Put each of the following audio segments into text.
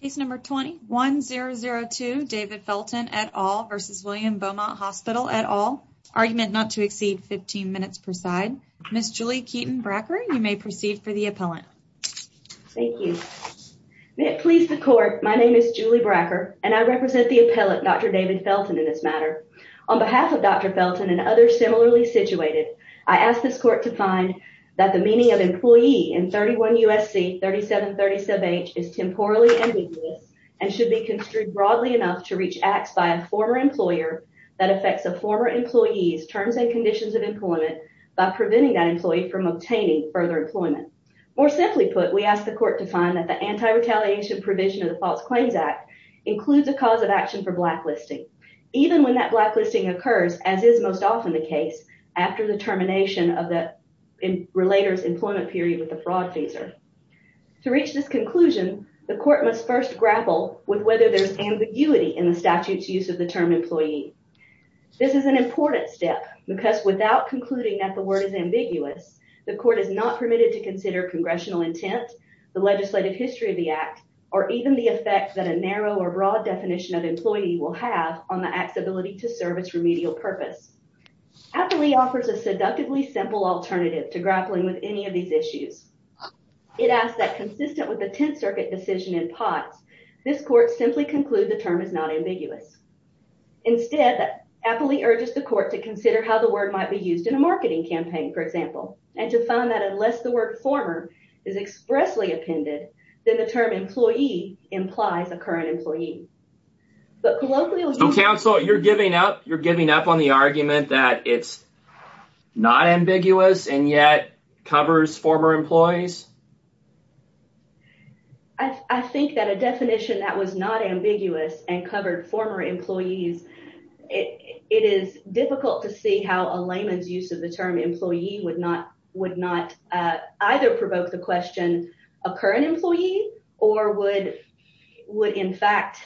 Case number 20-1002 David Felten et al. v. William Beaumont Hospital et al. Argument not to exceed 15 minutes per side. Ms. Julie Keaton Bracker, you may proceed for the appellant. Thank you. May it please the court, my name is Julie Bracker and I represent the appellant Dr. David Felten in this matter. On behalf of Dr. Felten and others similarly situated, I ask this court to find that the meaning of employee in 31 U.S.C. 3737H is temporally ambiguous and should be construed broadly enough to reach acts by a former employer that affects a former employee's terms and conditions of employment by preventing that employee from obtaining further employment. More simply put, we ask the court to find that the anti-retaliation provision of the False Claims Act includes a cause of action for blacklisting. Even when that termination of the relator's employment period with the fraud phaser. To reach this conclusion, the court must first grapple with whether there's ambiguity in the statute's use of the term employee. This is an important step because without concluding that the word is ambiguous, the court is not permitted to consider congressional intent, the legislative history of the act, or even the effect that a narrow or broad definition of employee will have on the act's ability to serve its remedial purpose. Appley offers a seductively simple alternative to grappling with any of these issues. It asks that consistent with the Tenth Circuit decision in Potts, this court simply conclude the term is not ambiguous. Instead, Appley urges the court to consider how the word might be used in a marketing campaign, for example, and to find that unless the word former is expressly appended, then the term employee implies a current employee. But colloquially... Counsel, you're giving up. You're giving up on the argument that it's not ambiguous and yet covers former employees. I think that a definition that was not ambiguous and covered former employees, it is difficult to see how a layman's use of the term employee would not would not either provoke the question a current employee or would in fact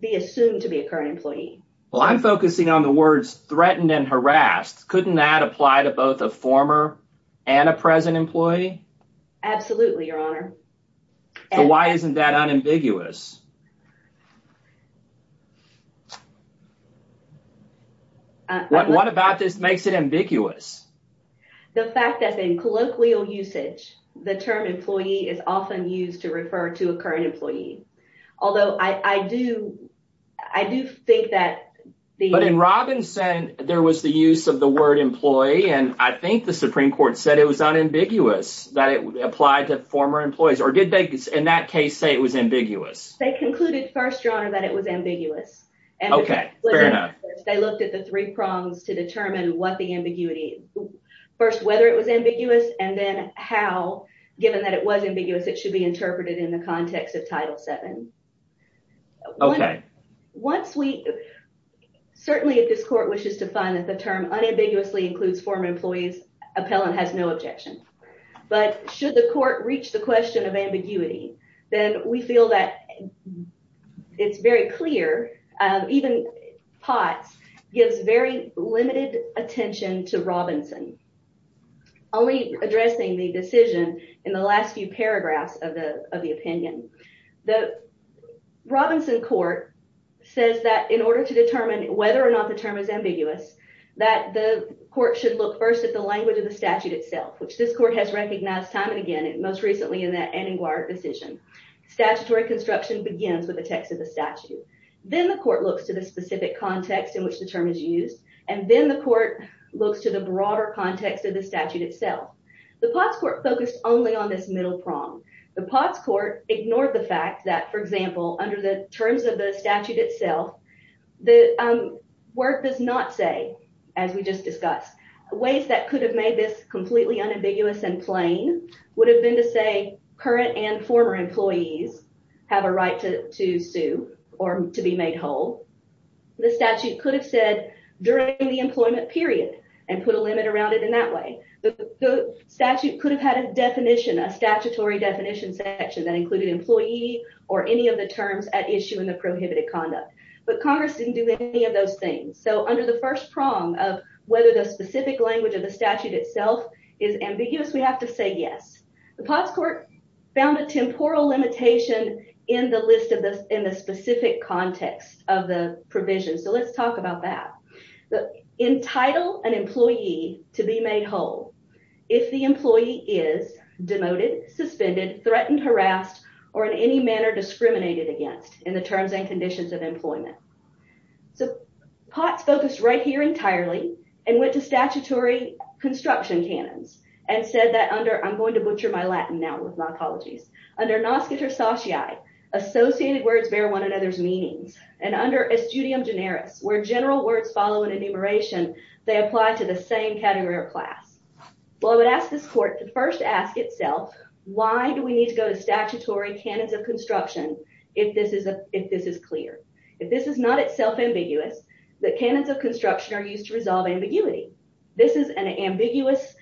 be assumed to be a current employee. Well, I'm focusing on the words threatened and harassed. Couldn't that apply to both a former and a present employee? Absolutely, your honor. So why isn't that unambiguous? What about this makes it ambiguous? The fact that in colloquial usage, the term employee is often used to refer to a current employee. Although I do, I do think that... But in Robinson, there was the use of the word employee and I think the Supreme Court said it was unambiguous that it applied to former employees. Or did they in that case say it was ambiguous? They concluded first, your honor, that it was ambiguous. Okay. Fair enough. They looked at the three prongs to determine what the ambiguity... First, whether it was ambiguous and then how, given that it was ambiguous, it should be interpreted in the context of Title VII. Okay. Once we... Certainly, if this court wishes to find that the term unambiguously includes former employees, appellant has no objection. But should the court reach the question of ambiguity, then we feel that it's very clear, even Potts gives very limited attention to Robinson, only addressing the decision in the last few paragraphs of the opinion. The Robinson court says that in order to determine whether or not the term is ambiguous, that the court should look first at the language of the statute itself, which this court has Statutory construction begins with the text of the statute. Then the court looks to the specific context in which the term is used. And then the court looks to the broader context of the statute itself. The Potts court focused only on this middle prong. The Potts court ignored the fact that, for example, under the terms of the statute itself, the word does not say, as we just discussed, ways that could have made this completely unambiguous and plain would have been to say current and former employees have a right to sue or to be made whole. The statute could have said during the employment period and put a limit around it in that way. The statute could have had a definition, a statutory definition section that included employee or any of the terms at issue in the prohibited conduct. But Congress didn't do any of those things. So under the first prong of whether the specific language of the statute itself is ambiguous, we have to say yes. The Potts court found a temporal limitation in the list of this in the specific context of the provision. So let's talk about that. Entitle an employee to be made whole if the employee is demoted, suspended, threatened, harassed, or in any manner discriminated against in the terms and conditions of employment. So Potts focused right here entirely and went to statutory construction canons and said that under, I'm going to butcher my Latin now with my apologies, under nosciter satiae, associated words bear one another's meanings, and under estudium generis, where general words follow an enumeration, they apply to the same category or class. Well, I would ask this court to first ask itself why do we need to go to statutory canons of construction if this is clear? If this is not itself ambiguous, the canons of construction are used to resolve ambiguity. This is an ambiguous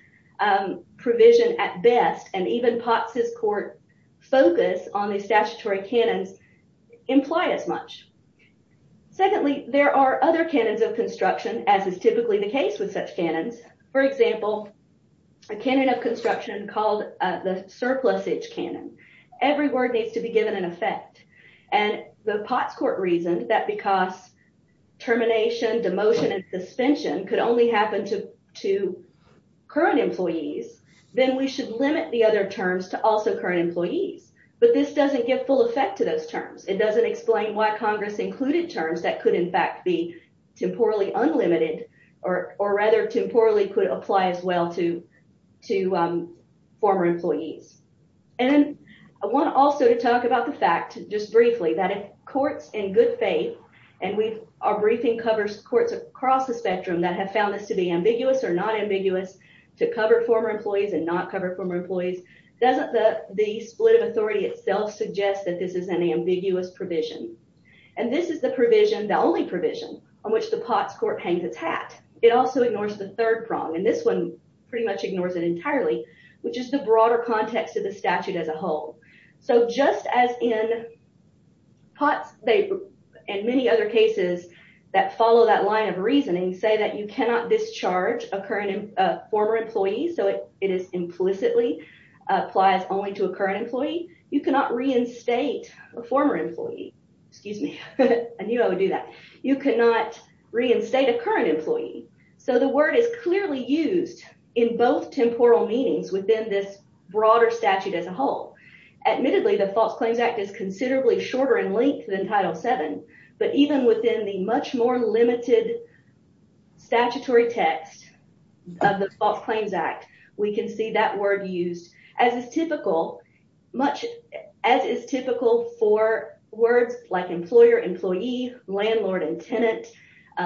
provision at best, and even Potts's court focus on the statutory canons imply as much. Secondly, there are other canons of construction, as is typically the case with such canons. For example, a canon of construction called the surplusage canon. Every word needs to be given an effect, and the Potts court reasoned that because termination, demotion, and suspension could only happen to current employees, then we should limit the other terms to also current employees. But this doesn't give full effect to those terms. It doesn't explain why Congress included terms that could in fact be temporally unlimited, or rather, temporally could apply as well to former employees. And I want also to talk about the fact, just briefly, that if courts in good faith, and our briefing covers courts across the spectrum that have found this to be ambiguous or not ambiguous to cover former employees and not cover former employees, doesn't the split of only provision on which the Potts court hangs its hat? It also ignores the third prong, and this one pretty much ignores it entirely, which is the broader context of the statute as a whole. So just as in Potts, and many other cases that follow that line of reasoning say that you cannot discharge a former employee, so it implicitly applies only to a current employee, you cannot reinstate a former employee. Excuse me, I knew I would do that. You cannot reinstate a current employee. So the word is clearly used in both temporal meanings within this broader statute as a whole. Admittedly, the False Claims Act is considerably shorter in length than Title VII, but even within the much more limited statutory text of the False Claims Act, we can see that word used as is typical for words like employer, employee, landlord, and tenant,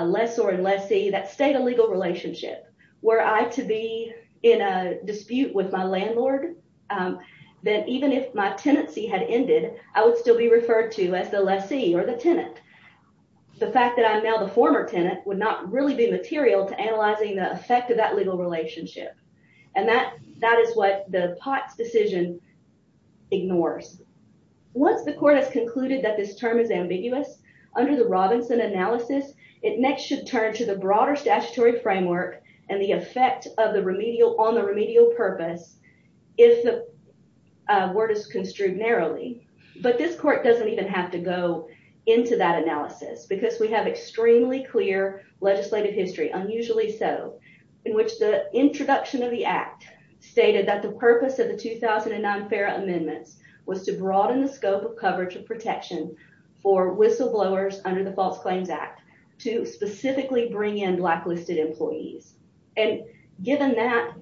lessor and lessee, that state a legal relationship. Were I to be in a dispute with my landlord, then even if my tenancy had ended, I would still be referred to as the lessee or the tenant. The fact that I am now the former tenant would not really be material to analyzing the effect of that legal relationship. And that is what the Potts decision ignores. Once the court has concluded that this term is ambiguous, under the Robinson analysis, it next should turn to the broader statutory framework and the effect on the remedial purpose if the word is construed narrowly. But this court doesn't even have to go into that analysis because we have extremely clear legislative history, unusually so, in which the introduction of the act stated that the purpose of the 2009 FARA amendments was to broaden the scope of coverage and protection for whistleblowers under the False Claims Act to specifically bring in blacklisted employees. And given that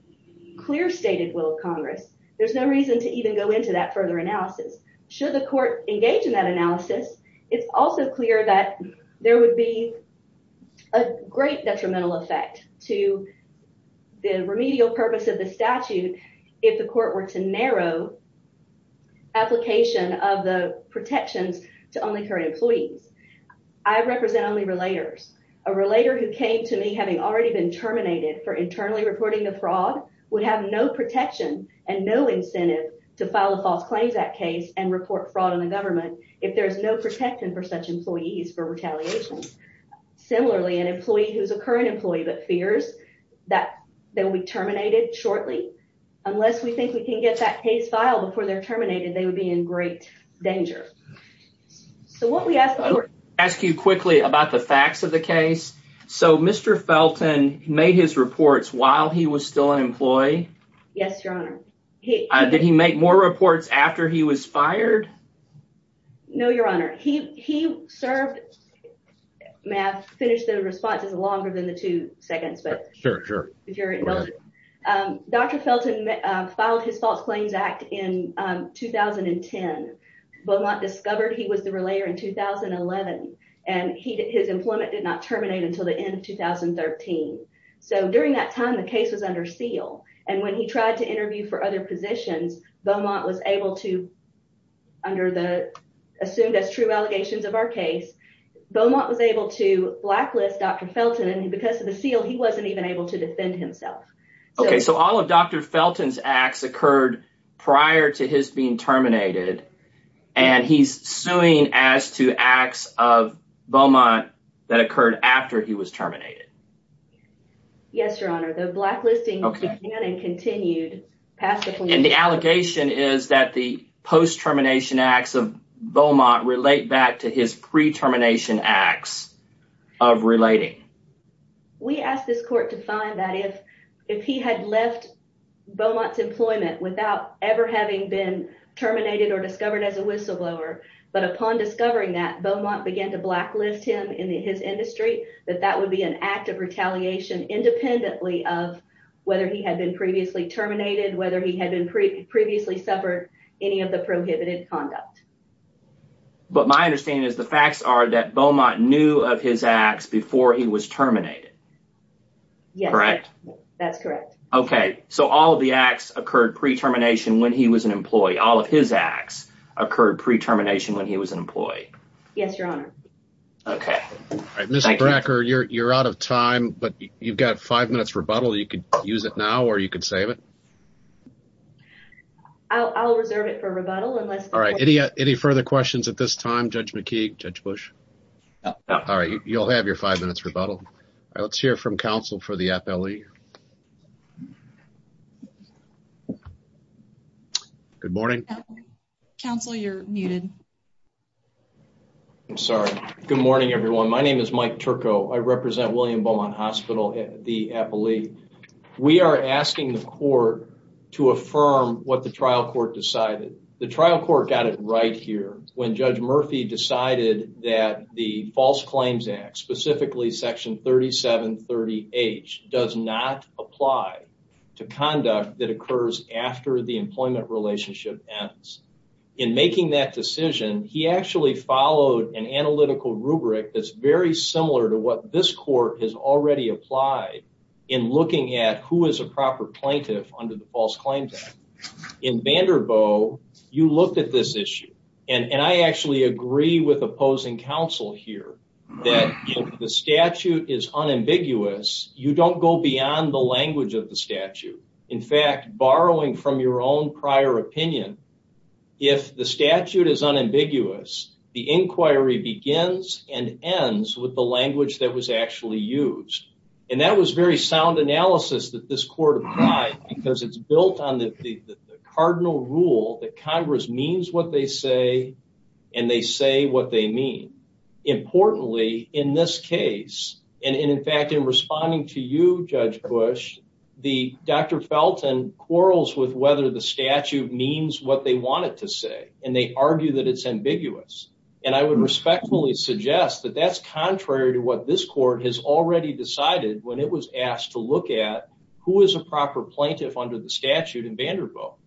clear stated will of Congress, there's no reason to even go into that further analysis. Should the court engage in that analysis, it's also clear that there would be a great detrimental effect to the remedial purpose of the statute if the court were to narrow application of the protections to only current employees. I represent only relators. A relator who came to me having already been terminated for internally reporting the fraud would have no protection and no incentive to file a False Claims Act case and report fraud on the government if there's no protection for such employees for retaliation. Similarly, an employee who's a current employee but fears that they'll be terminated shortly, unless we think we can get that case filed before they're terminated, they would be in great danger. So what we ask the court... I'll ask you quickly about the facts of the case. So Mr. Felton made his reports while he was still an employee? Yes, your honor. Did he make more reports after he was fired? No, your honor. He served... May I finish the response? It's longer than the two seconds, but... Sure, sure. If you're indulging. Dr. Felton filed his False Claims Act in 2010. Beaumont discovered he was the relator in 2011 and his employment did not terminate until the end of 2013. So during that time, the case was under seal and when he tried to interview for other positions, Beaumont was able to, under the assumed as true allegations of our case, Beaumont was able to blacklist Dr. Felton and because of the seal, he wasn't even able to defend himself. Okay, so all of Dr. Felton's acts occurred prior to his being terminated and he's suing as to acts of Beaumont that occurred after he was terminated? Yes, your honor. The blacklisting began and continued. And the allegation is that the post-termination acts of Beaumont relate back to his pre-termination acts of relating? We asked this court to find that if he had left Beaumont's employment without ever having been terminated or discovered as a whistleblower, but upon discovering that, Beaumont began to blacklist him in his industry, that that would be an act of retaliation independently of whether he had been previously terminated, whether he had been previously suffered any of the prohibited conduct. But my understanding is the facts are that Beaumont knew of his acts before he was terminated, correct? That's correct. Okay, so all of the acts occurred pre-termination when he was an employee. All of his acts occurred pre-termination when he was an employee. Yes, your honor. Okay. All right, Ms. Bracker, you're out of time, but you've got five minutes rebuttal. You could use it now or you could save it. I'll reserve it for rebuttal. All right, any further questions at this time? Judge McKeague? Judge Bush? All right, you'll have your five minutes rebuttal. All right, let's hear from counsel for the FLE. Good morning. Counselor, you're muted. I'm sorry. Good morning, everyone. My name is Mike Turco. I represent William Beaumont Hospital, the FLE. We are asking the court to affirm what the trial court decided. The trial court got it right here when Judge Murphy decided that the False Claims Act, specifically Section 3730H, does not apply to conduct that occurs after the employment relationship ends. In making that decision, he actually followed an analytical rubric that's very similar to what this court has already applied in looking at who is a proper plaintiff under the False Claims Act. In Vanderbilt, you looked at this issue, and I actually agree with opposing counsel here that if the statute is unambiguous, you don't go beyond the language of the statute. In fact, borrowing from your own prior opinion, if the statute is unambiguous, the inquiry begins and ends with the language that was actually used. That was very sound analysis that this court applied because it's built on the cardinal rule that Congress means what they say, and they say what they mean. Importantly, in this case, and in fact, in responding to you, Judge Bush, Dr. Felton quarrels with whether the statute means what they want it to say, and they argue that it's ambiguous. I would respectfully suggest that that's contrary to what this court has already decided when it was asked to look at who is a proper plaintiff under the statute in Vanderbilt.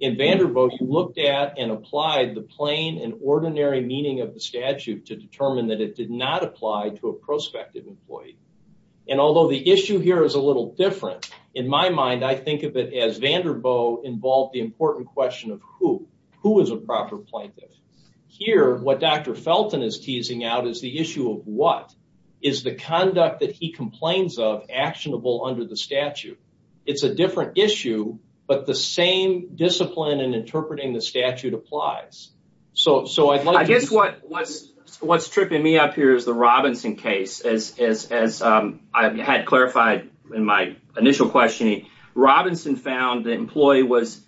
In Vanderbilt, you looked at and applied the plain and ordinary meaning of the statute to determine that it did not apply to a prospective employee. Although the issue here is a little different, in my mind, I think of it as Vanderbilt involved the important question of who is a proper plaintiff. Here, what Dr. Felton is teasing out is the issue of what is the conduct that he complains of actionable under the statute. It's a different issue, but the same discipline in interpreting the statute applies. I guess what's tripping me up here is the Robinson case. As I had clarified in my initial questioning, Robinson found that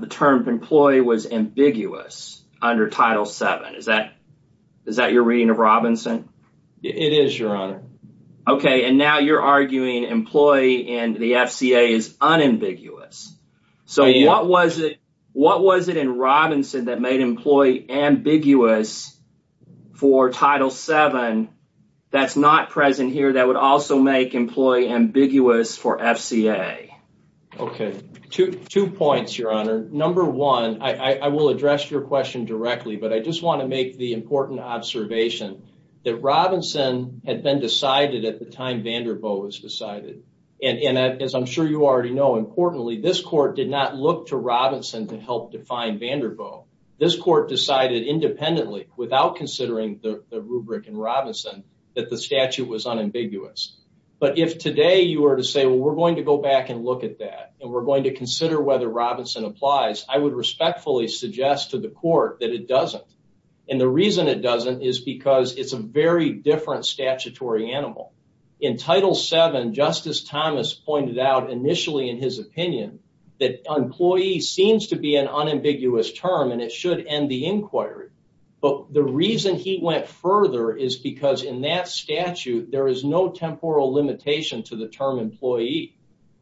the term employee was ambiguous under Title VII. Is that your reading of Robinson? It is, Your Honor. Okay, and now you're arguing employee in the FCA is unambiguous. What was it in Robinson that made employee ambiguous for Title VII that's not present here that would also make employee ambiguous for FCA? Okay, two points, Your Honor. Number one, I will address your question directly, but I just want to make the important observation that Robinson had been decided at the time Vanderbilt was decided. As I'm sure you already know, importantly, this court did not look to Robinson to help define Vanderbilt. This court decided independently without considering the rubric in Robinson that the statute was unambiguous. But if today you were to say, well, we're going to go back and look at that and we're going to consider whether Robinson applies, I would respectfully suggest to the court that it doesn't. And the reason it doesn't is because it's a very different statutory animal. In Title VII, Justice Thomas pointed out initially in his opinion that employee seems to be an unambiguous term, and it should end the inquiry. But the reason he went further is because in that statute, there is no temporal limitation to the term employee.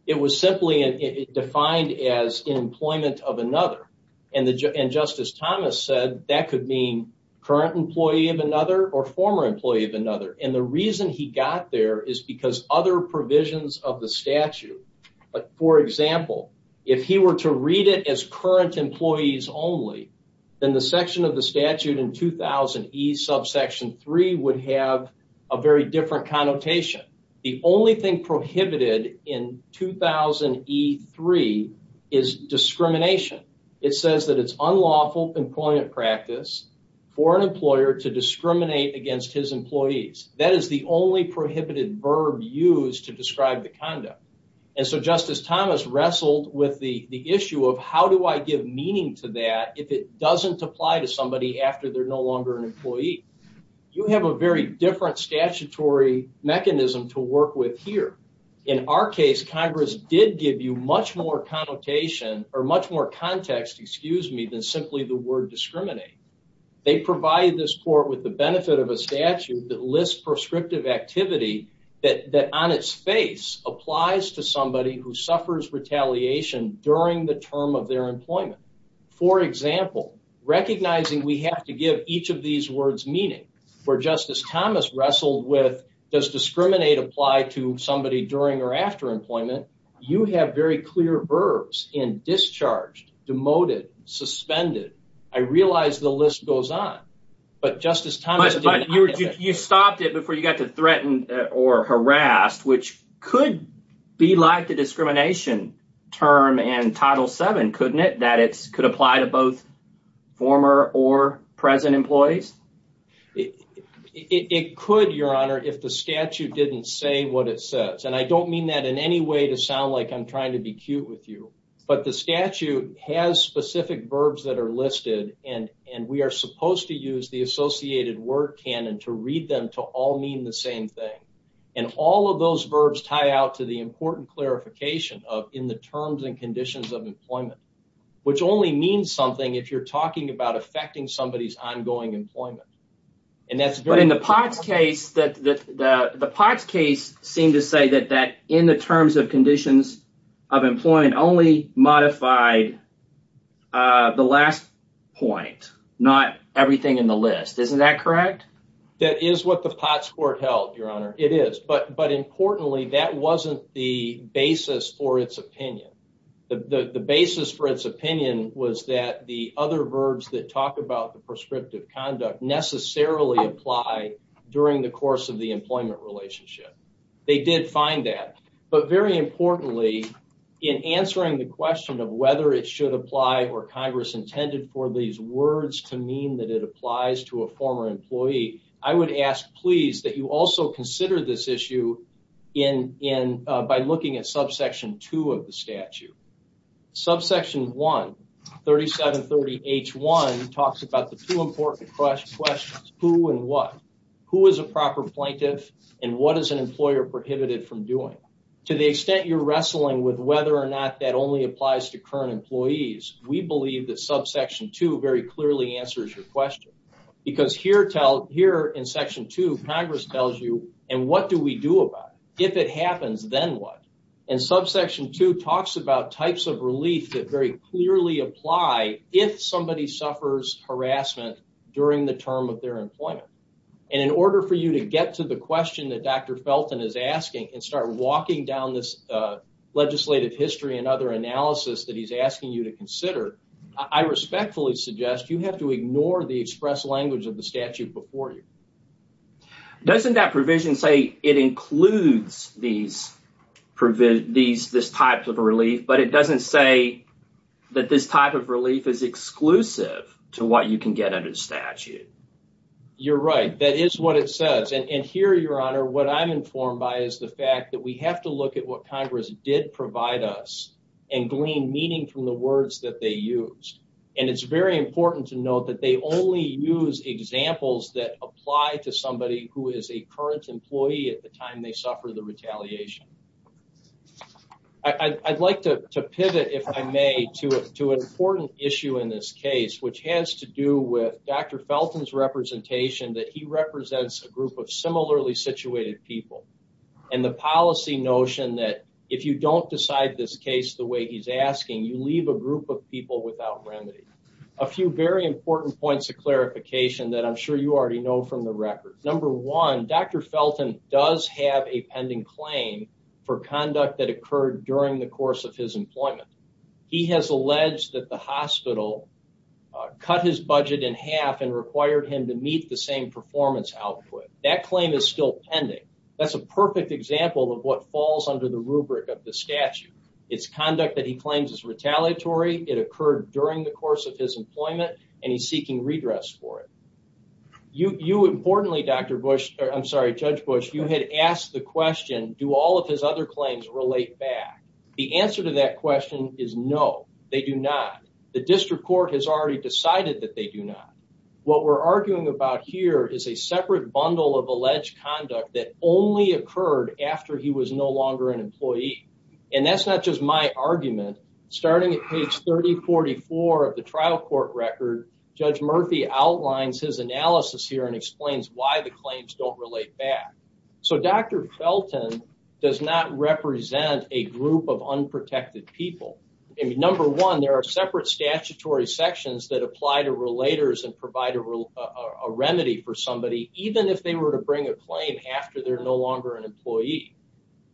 It was simply defined as employment of another. And Justice Thomas said that could mean current employee of another or former employee of another. And the reason he got there is because other provisions of the statute. But for example, if he were to read it as current employees only, then the section of the statute in 2000E subsection three would have a very different connotation. The only thing prohibited in 2000E3 is discrimination. It says that it's unlawful employment practice for an employer to discriminate against his employees. That is the only prohibited verb used to describe the conduct. And so Justice Thomas wrestled with the issue of how do I give meaning to that if it doesn't apply to somebody after they're no longer an employee? You have a different statutory mechanism to work with here. In our case, Congress did give you much more connotation or much more context, excuse me, than simply the word discriminate. They provided this court with the benefit of a statute that lists prescriptive activity that on its face applies to somebody who suffers retaliation during the term of their employment. For example, recognizing we have to give each of these words meaning. For Justice Thomas wrestled with does discriminate apply to somebody during or after employment? You have very clear verbs in discharged, demoted, suspended. I realize the list goes on. But Justice Thomas- But you stopped it before you got to threaten or harass, which could be like the discrimination term in Title VII, couldn't it? That it could apply to both former or present employees? Justice Thomas- It could, Your Honor, if the statute didn't say what it says. And I don't mean that in any way to sound like I'm trying to be cute with you. But the statute has specific verbs that are listed. And we are supposed to use the associated word canon to read them to all mean the same thing. And all of those verbs tie out to the important clarification of in the terms and conditions of employment, which only means something if you're talking about affecting somebody's ongoing employment. And that's- But in the Potts case, the Potts case seemed to say that in the terms of conditions of employment only modified the last point, not everything in the statute. And I don't mean that in any way to sound like I'm trying to be cute with you. But- Justice Breyer- It is. But importantly, that wasn't the basis for its opinion. The basis for its opinion was that the other verbs that talk about the prescriptive conduct necessarily apply during the course of the employment relationship. They did find that. But very importantly, in answering the question of whether it should apply or Congress intended for these words to mean that it applies to a former employee, I would ask, please, that you also consider this issue by looking at subsection two of the statute. Subsection one, 3730H1, talks about the two important questions, who and what. Who is a proper plaintiff and what is an employer prohibited from doing? To the extent you're wrestling with whether or not that only applies to current employees, we believe that subsection two very clearly answers your question. Because here in section two, Congress tells you, and what do we do about it? If it happens, then what? And subsection two talks about types of relief that very clearly apply if somebody suffers harassment during the term of their employment. And in order for you to get to the question that Dr. Felton is asking and start walking down this legislative history and other analysis that he's asking you to consider, I respectfully suggest you have to ignore the express language of the statute before you. Doesn't that provision say it includes this type of relief, but it doesn't say that this type of relief is exclusive to what you can get under the statute? You're right. That is what it says. And here, Your Honor, what I'm informed by is the fact that we have to look at what Congress did provide us and glean meaning from the words that they used. And it's very important to note that they only use examples that apply to somebody who is a current employee at the time they suffer the retaliation. I'd like to pivot, if I may, to an important issue in this case, which has to do with Dr. Felton's representation that he represents a group of similarly situated people and the policy notion that if you don't decide this case the way he's asking, you leave a group of people without remedy. A few very important points of clarification that I'm sure you already know from the record. Number one, Dr. Felton does have a pending claim for conduct that occurred during the course of his employment. He has alleged that the hospital cut his budget in half and required him to meet the same performance output. That claim is still pending. That's a perfect example of what falls under the rubric of the statute. It's conduct that he claims is retaliatory. It occurred during the course of his do all of his other claims relate back? The answer to that question is no, they do not. The district court has already decided that they do not. What we're arguing about here is a separate bundle of alleged conduct that only occurred after he was no longer an employee. And that's not just my argument. Starting at page 3044 of the trial court record, Judge Murphy outlines his analysis here and explains why the claims don't relate back. So Dr. Felton does not represent a group of unprotected people. Number one, there are separate statutory sections that apply to relators and provide a remedy for somebody, even if they were to bring a claim after they're no longer an employee.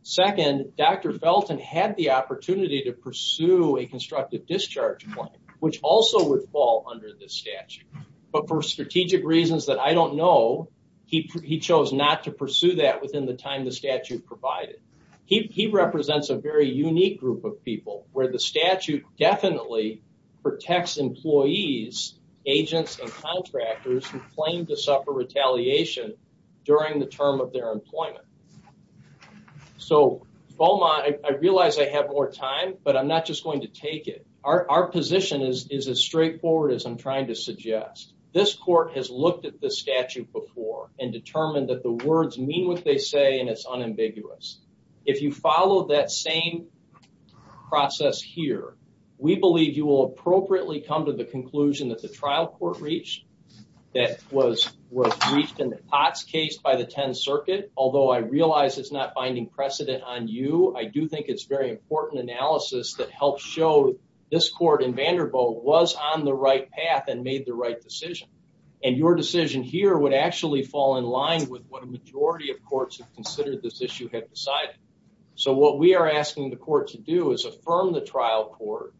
Second, Dr. Felton had the opportunity to pursue a constructive discharge claim, which also would fall under this statute. But for strategic reasons that I don't know, he chose not to pursue that within the time the statute provided. He represents a very unique group of people where the statute definitely protects employees, agents, and contractors who claim to suffer retaliation during the term of their employment. So Beaumont, I realize I have more time, but I'm not just going to take it. Our position is as straightforward as I'm trying to suggest. This court has looked at the statute before and determined that the words mean what they say and it's unambiguous. If you follow that same process here, we believe you will appropriately come to the conclusion that the trial court reach that was reached in the Potts case by the 10th Circuit. Although I realize it's not binding precedent on you, I do think it's very important analysis that helps show this court in Vanderbilt was on the right path and made the right decision. And your decision here would actually fall in line with what a majority of courts have considered this issue had decided. So what we are asking the court to do is affirm the trial court,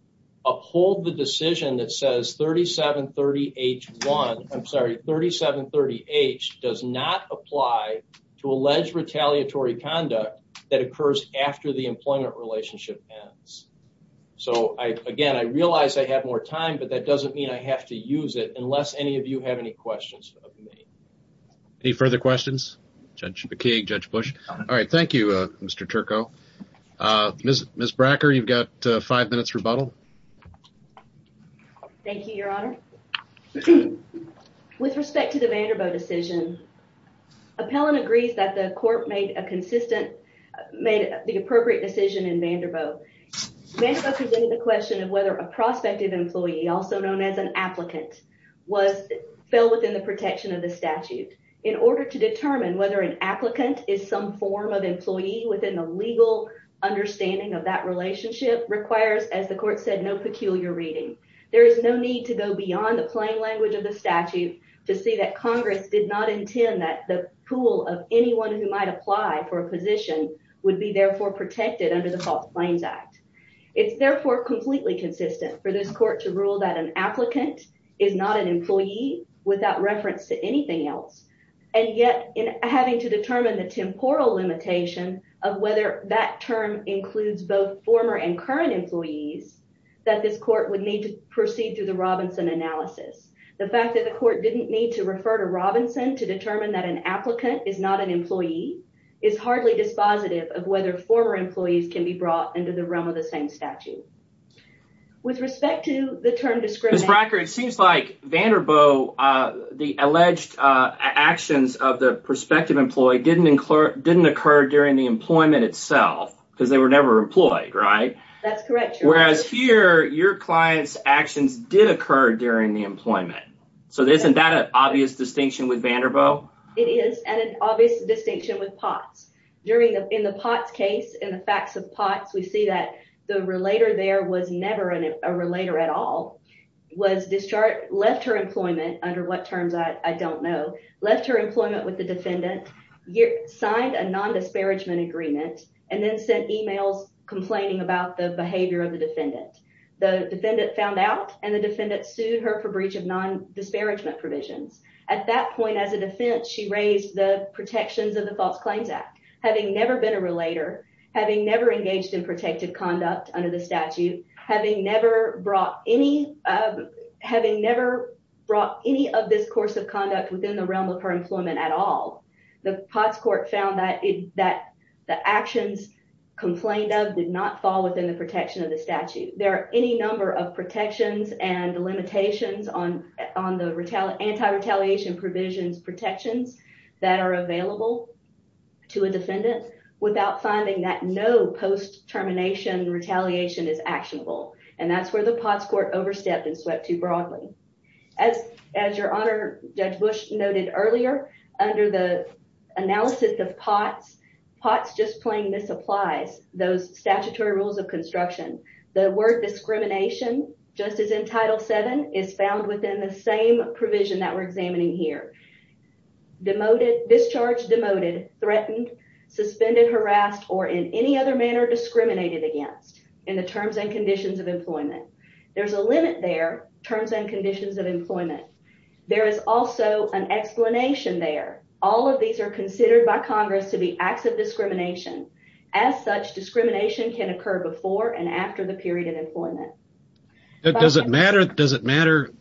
uphold the decision that says 3730H1, I'm sorry, 3730H does not apply to Vanderbilt. So again, I realize I have more time, but that doesn't mean I have to use it unless any of you have any questions of me. Any further questions? Judge McKeague, Judge Bush. All right, thank you, Mr. Turco. Ms. Bracker, you've got five minutes rebuttal. Thank you, Your Honor. With respect to the Vanderbilt decision, appellant agrees that the court made a consistent, made the appropriate decision in Vanderbilt. Vanderbilt presented the question of whether a prospective employee, also known as an applicant, fell within the protection of the statute. In order to determine whether an applicant is some form of employee within the legal understanding of that relationship requires, as the court said, no peculiar reading. There is no need to go beyond the plain language of the statute to see that Congress did not intend that the pool of would be therefore protected under the False Claims Act. It's therefore completely consistent for this court to rule that an applicant is not an employee without reference to anything else. And yet, in having to determine the temporal limitation of whether that term includes both former and current employees, that this court would need to proceed through the Robinson analysis. The fact that the court didn't need to refer to Robinson to determine that an applicant is not an employee is hardly dispositive of whether former employees can be brought into the realm of the same statute. With respect to the term discrimination... Ms. Bracker, it seems like Vanderbilt, the alleged actions of the prospective employee didn't occur during the employment itself because they were never employed, right? That's correct, Your Honor. Whereas here, your client's actions did occur during the employment. So, isn't that an obvious distinction with Vanderbilt? It is an obvious distinction with Potts. In the Potts case, in the facts of Potts, we see that the relator there was never a relator at all, left her employment, under what terms, I don't know, left her employment with the defendant, signed a non-disparagement agreement, and then sent emails complaining about the behavior of the defendant. The defendant found out and the defendant sued her for breach of non-disparagement provisions. At that point, as a defense, she raised the protections of the False Claims Act. Having never been a relator, having never engaged in protective conduct under the statute, having never brought any of this course of conduct within the realm of her employment at all, the Potts court found that the actions complained of did not fall within the protection of the statute. There are any number of protections and limitations on the anti-retaliation provisions protections that are available to a defendant without finding that no post-termination retaliation is actionable. And that's where the Potts court overstepped and swept too broadly. As your Honor, Judge Bush noted earlier, under the analysis of Potts, Potts just rules of construction, the word discrimination, just as in Title VII, is found within the same provision that we're examining here. Discharged, demoted, threatened, suspended, harassed, or in any other manner discriminated against in the terms and conditions of employment. There's a limit there, terms and conditions of employment. There is also an explanation there. All of these are before and after the period of employment. Does it matter,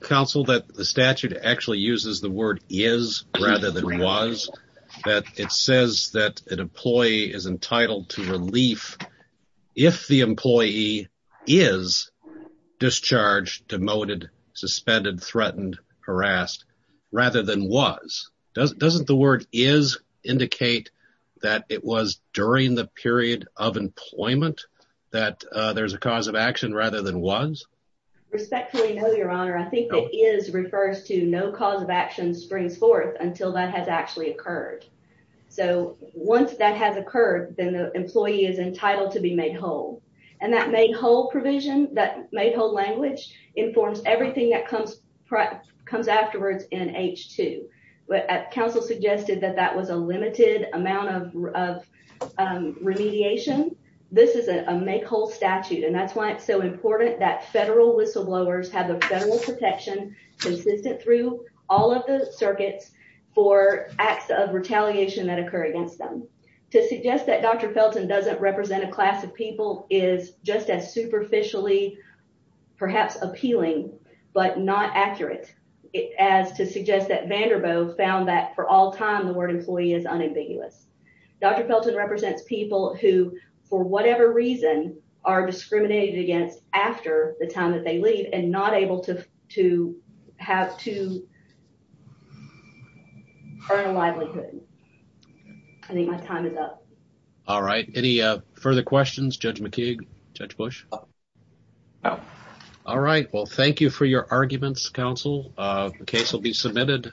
counsel, that the statute actually uses the word is rather than was? That it says that an employee is entitled to relief if the employee is discharged, demoted, suspended, threatened, harassed, rather than was. Doesn't the word is indicate that it was during the period of employment that there's a cause of action rather than was? Respectfully, no, your Honor. I think that is refers to no cause of action springs forth until that has actually occurred. So once that has occurred, then the employee is entitled to be made whole. And that made whole provision, that made whole language, informs everything that comes afterwards in H-2. But counsel suggested that that was a limited amount of remediation. This is a make whole statute. And that's why it's so important that federal whistleblowers have a federal protection consistent through all of the circuits for acts of retaliation that occur against them. To suggest that Dr. Felton doesn't represent a class of perhaps appealing, but not accurate, as to suggest that Vanderbilt found that for all time, the word employee is unambiguous. Dr. Felton represents people who, for whatever reason, are discriminated against after the time that they leave and not able to have to earn a livelihood. I think my time is up. All right. Any further questions? Judge McKeague? Judge Bush? All right. Well, thank you for your arguments, counsel. The case will be submitted.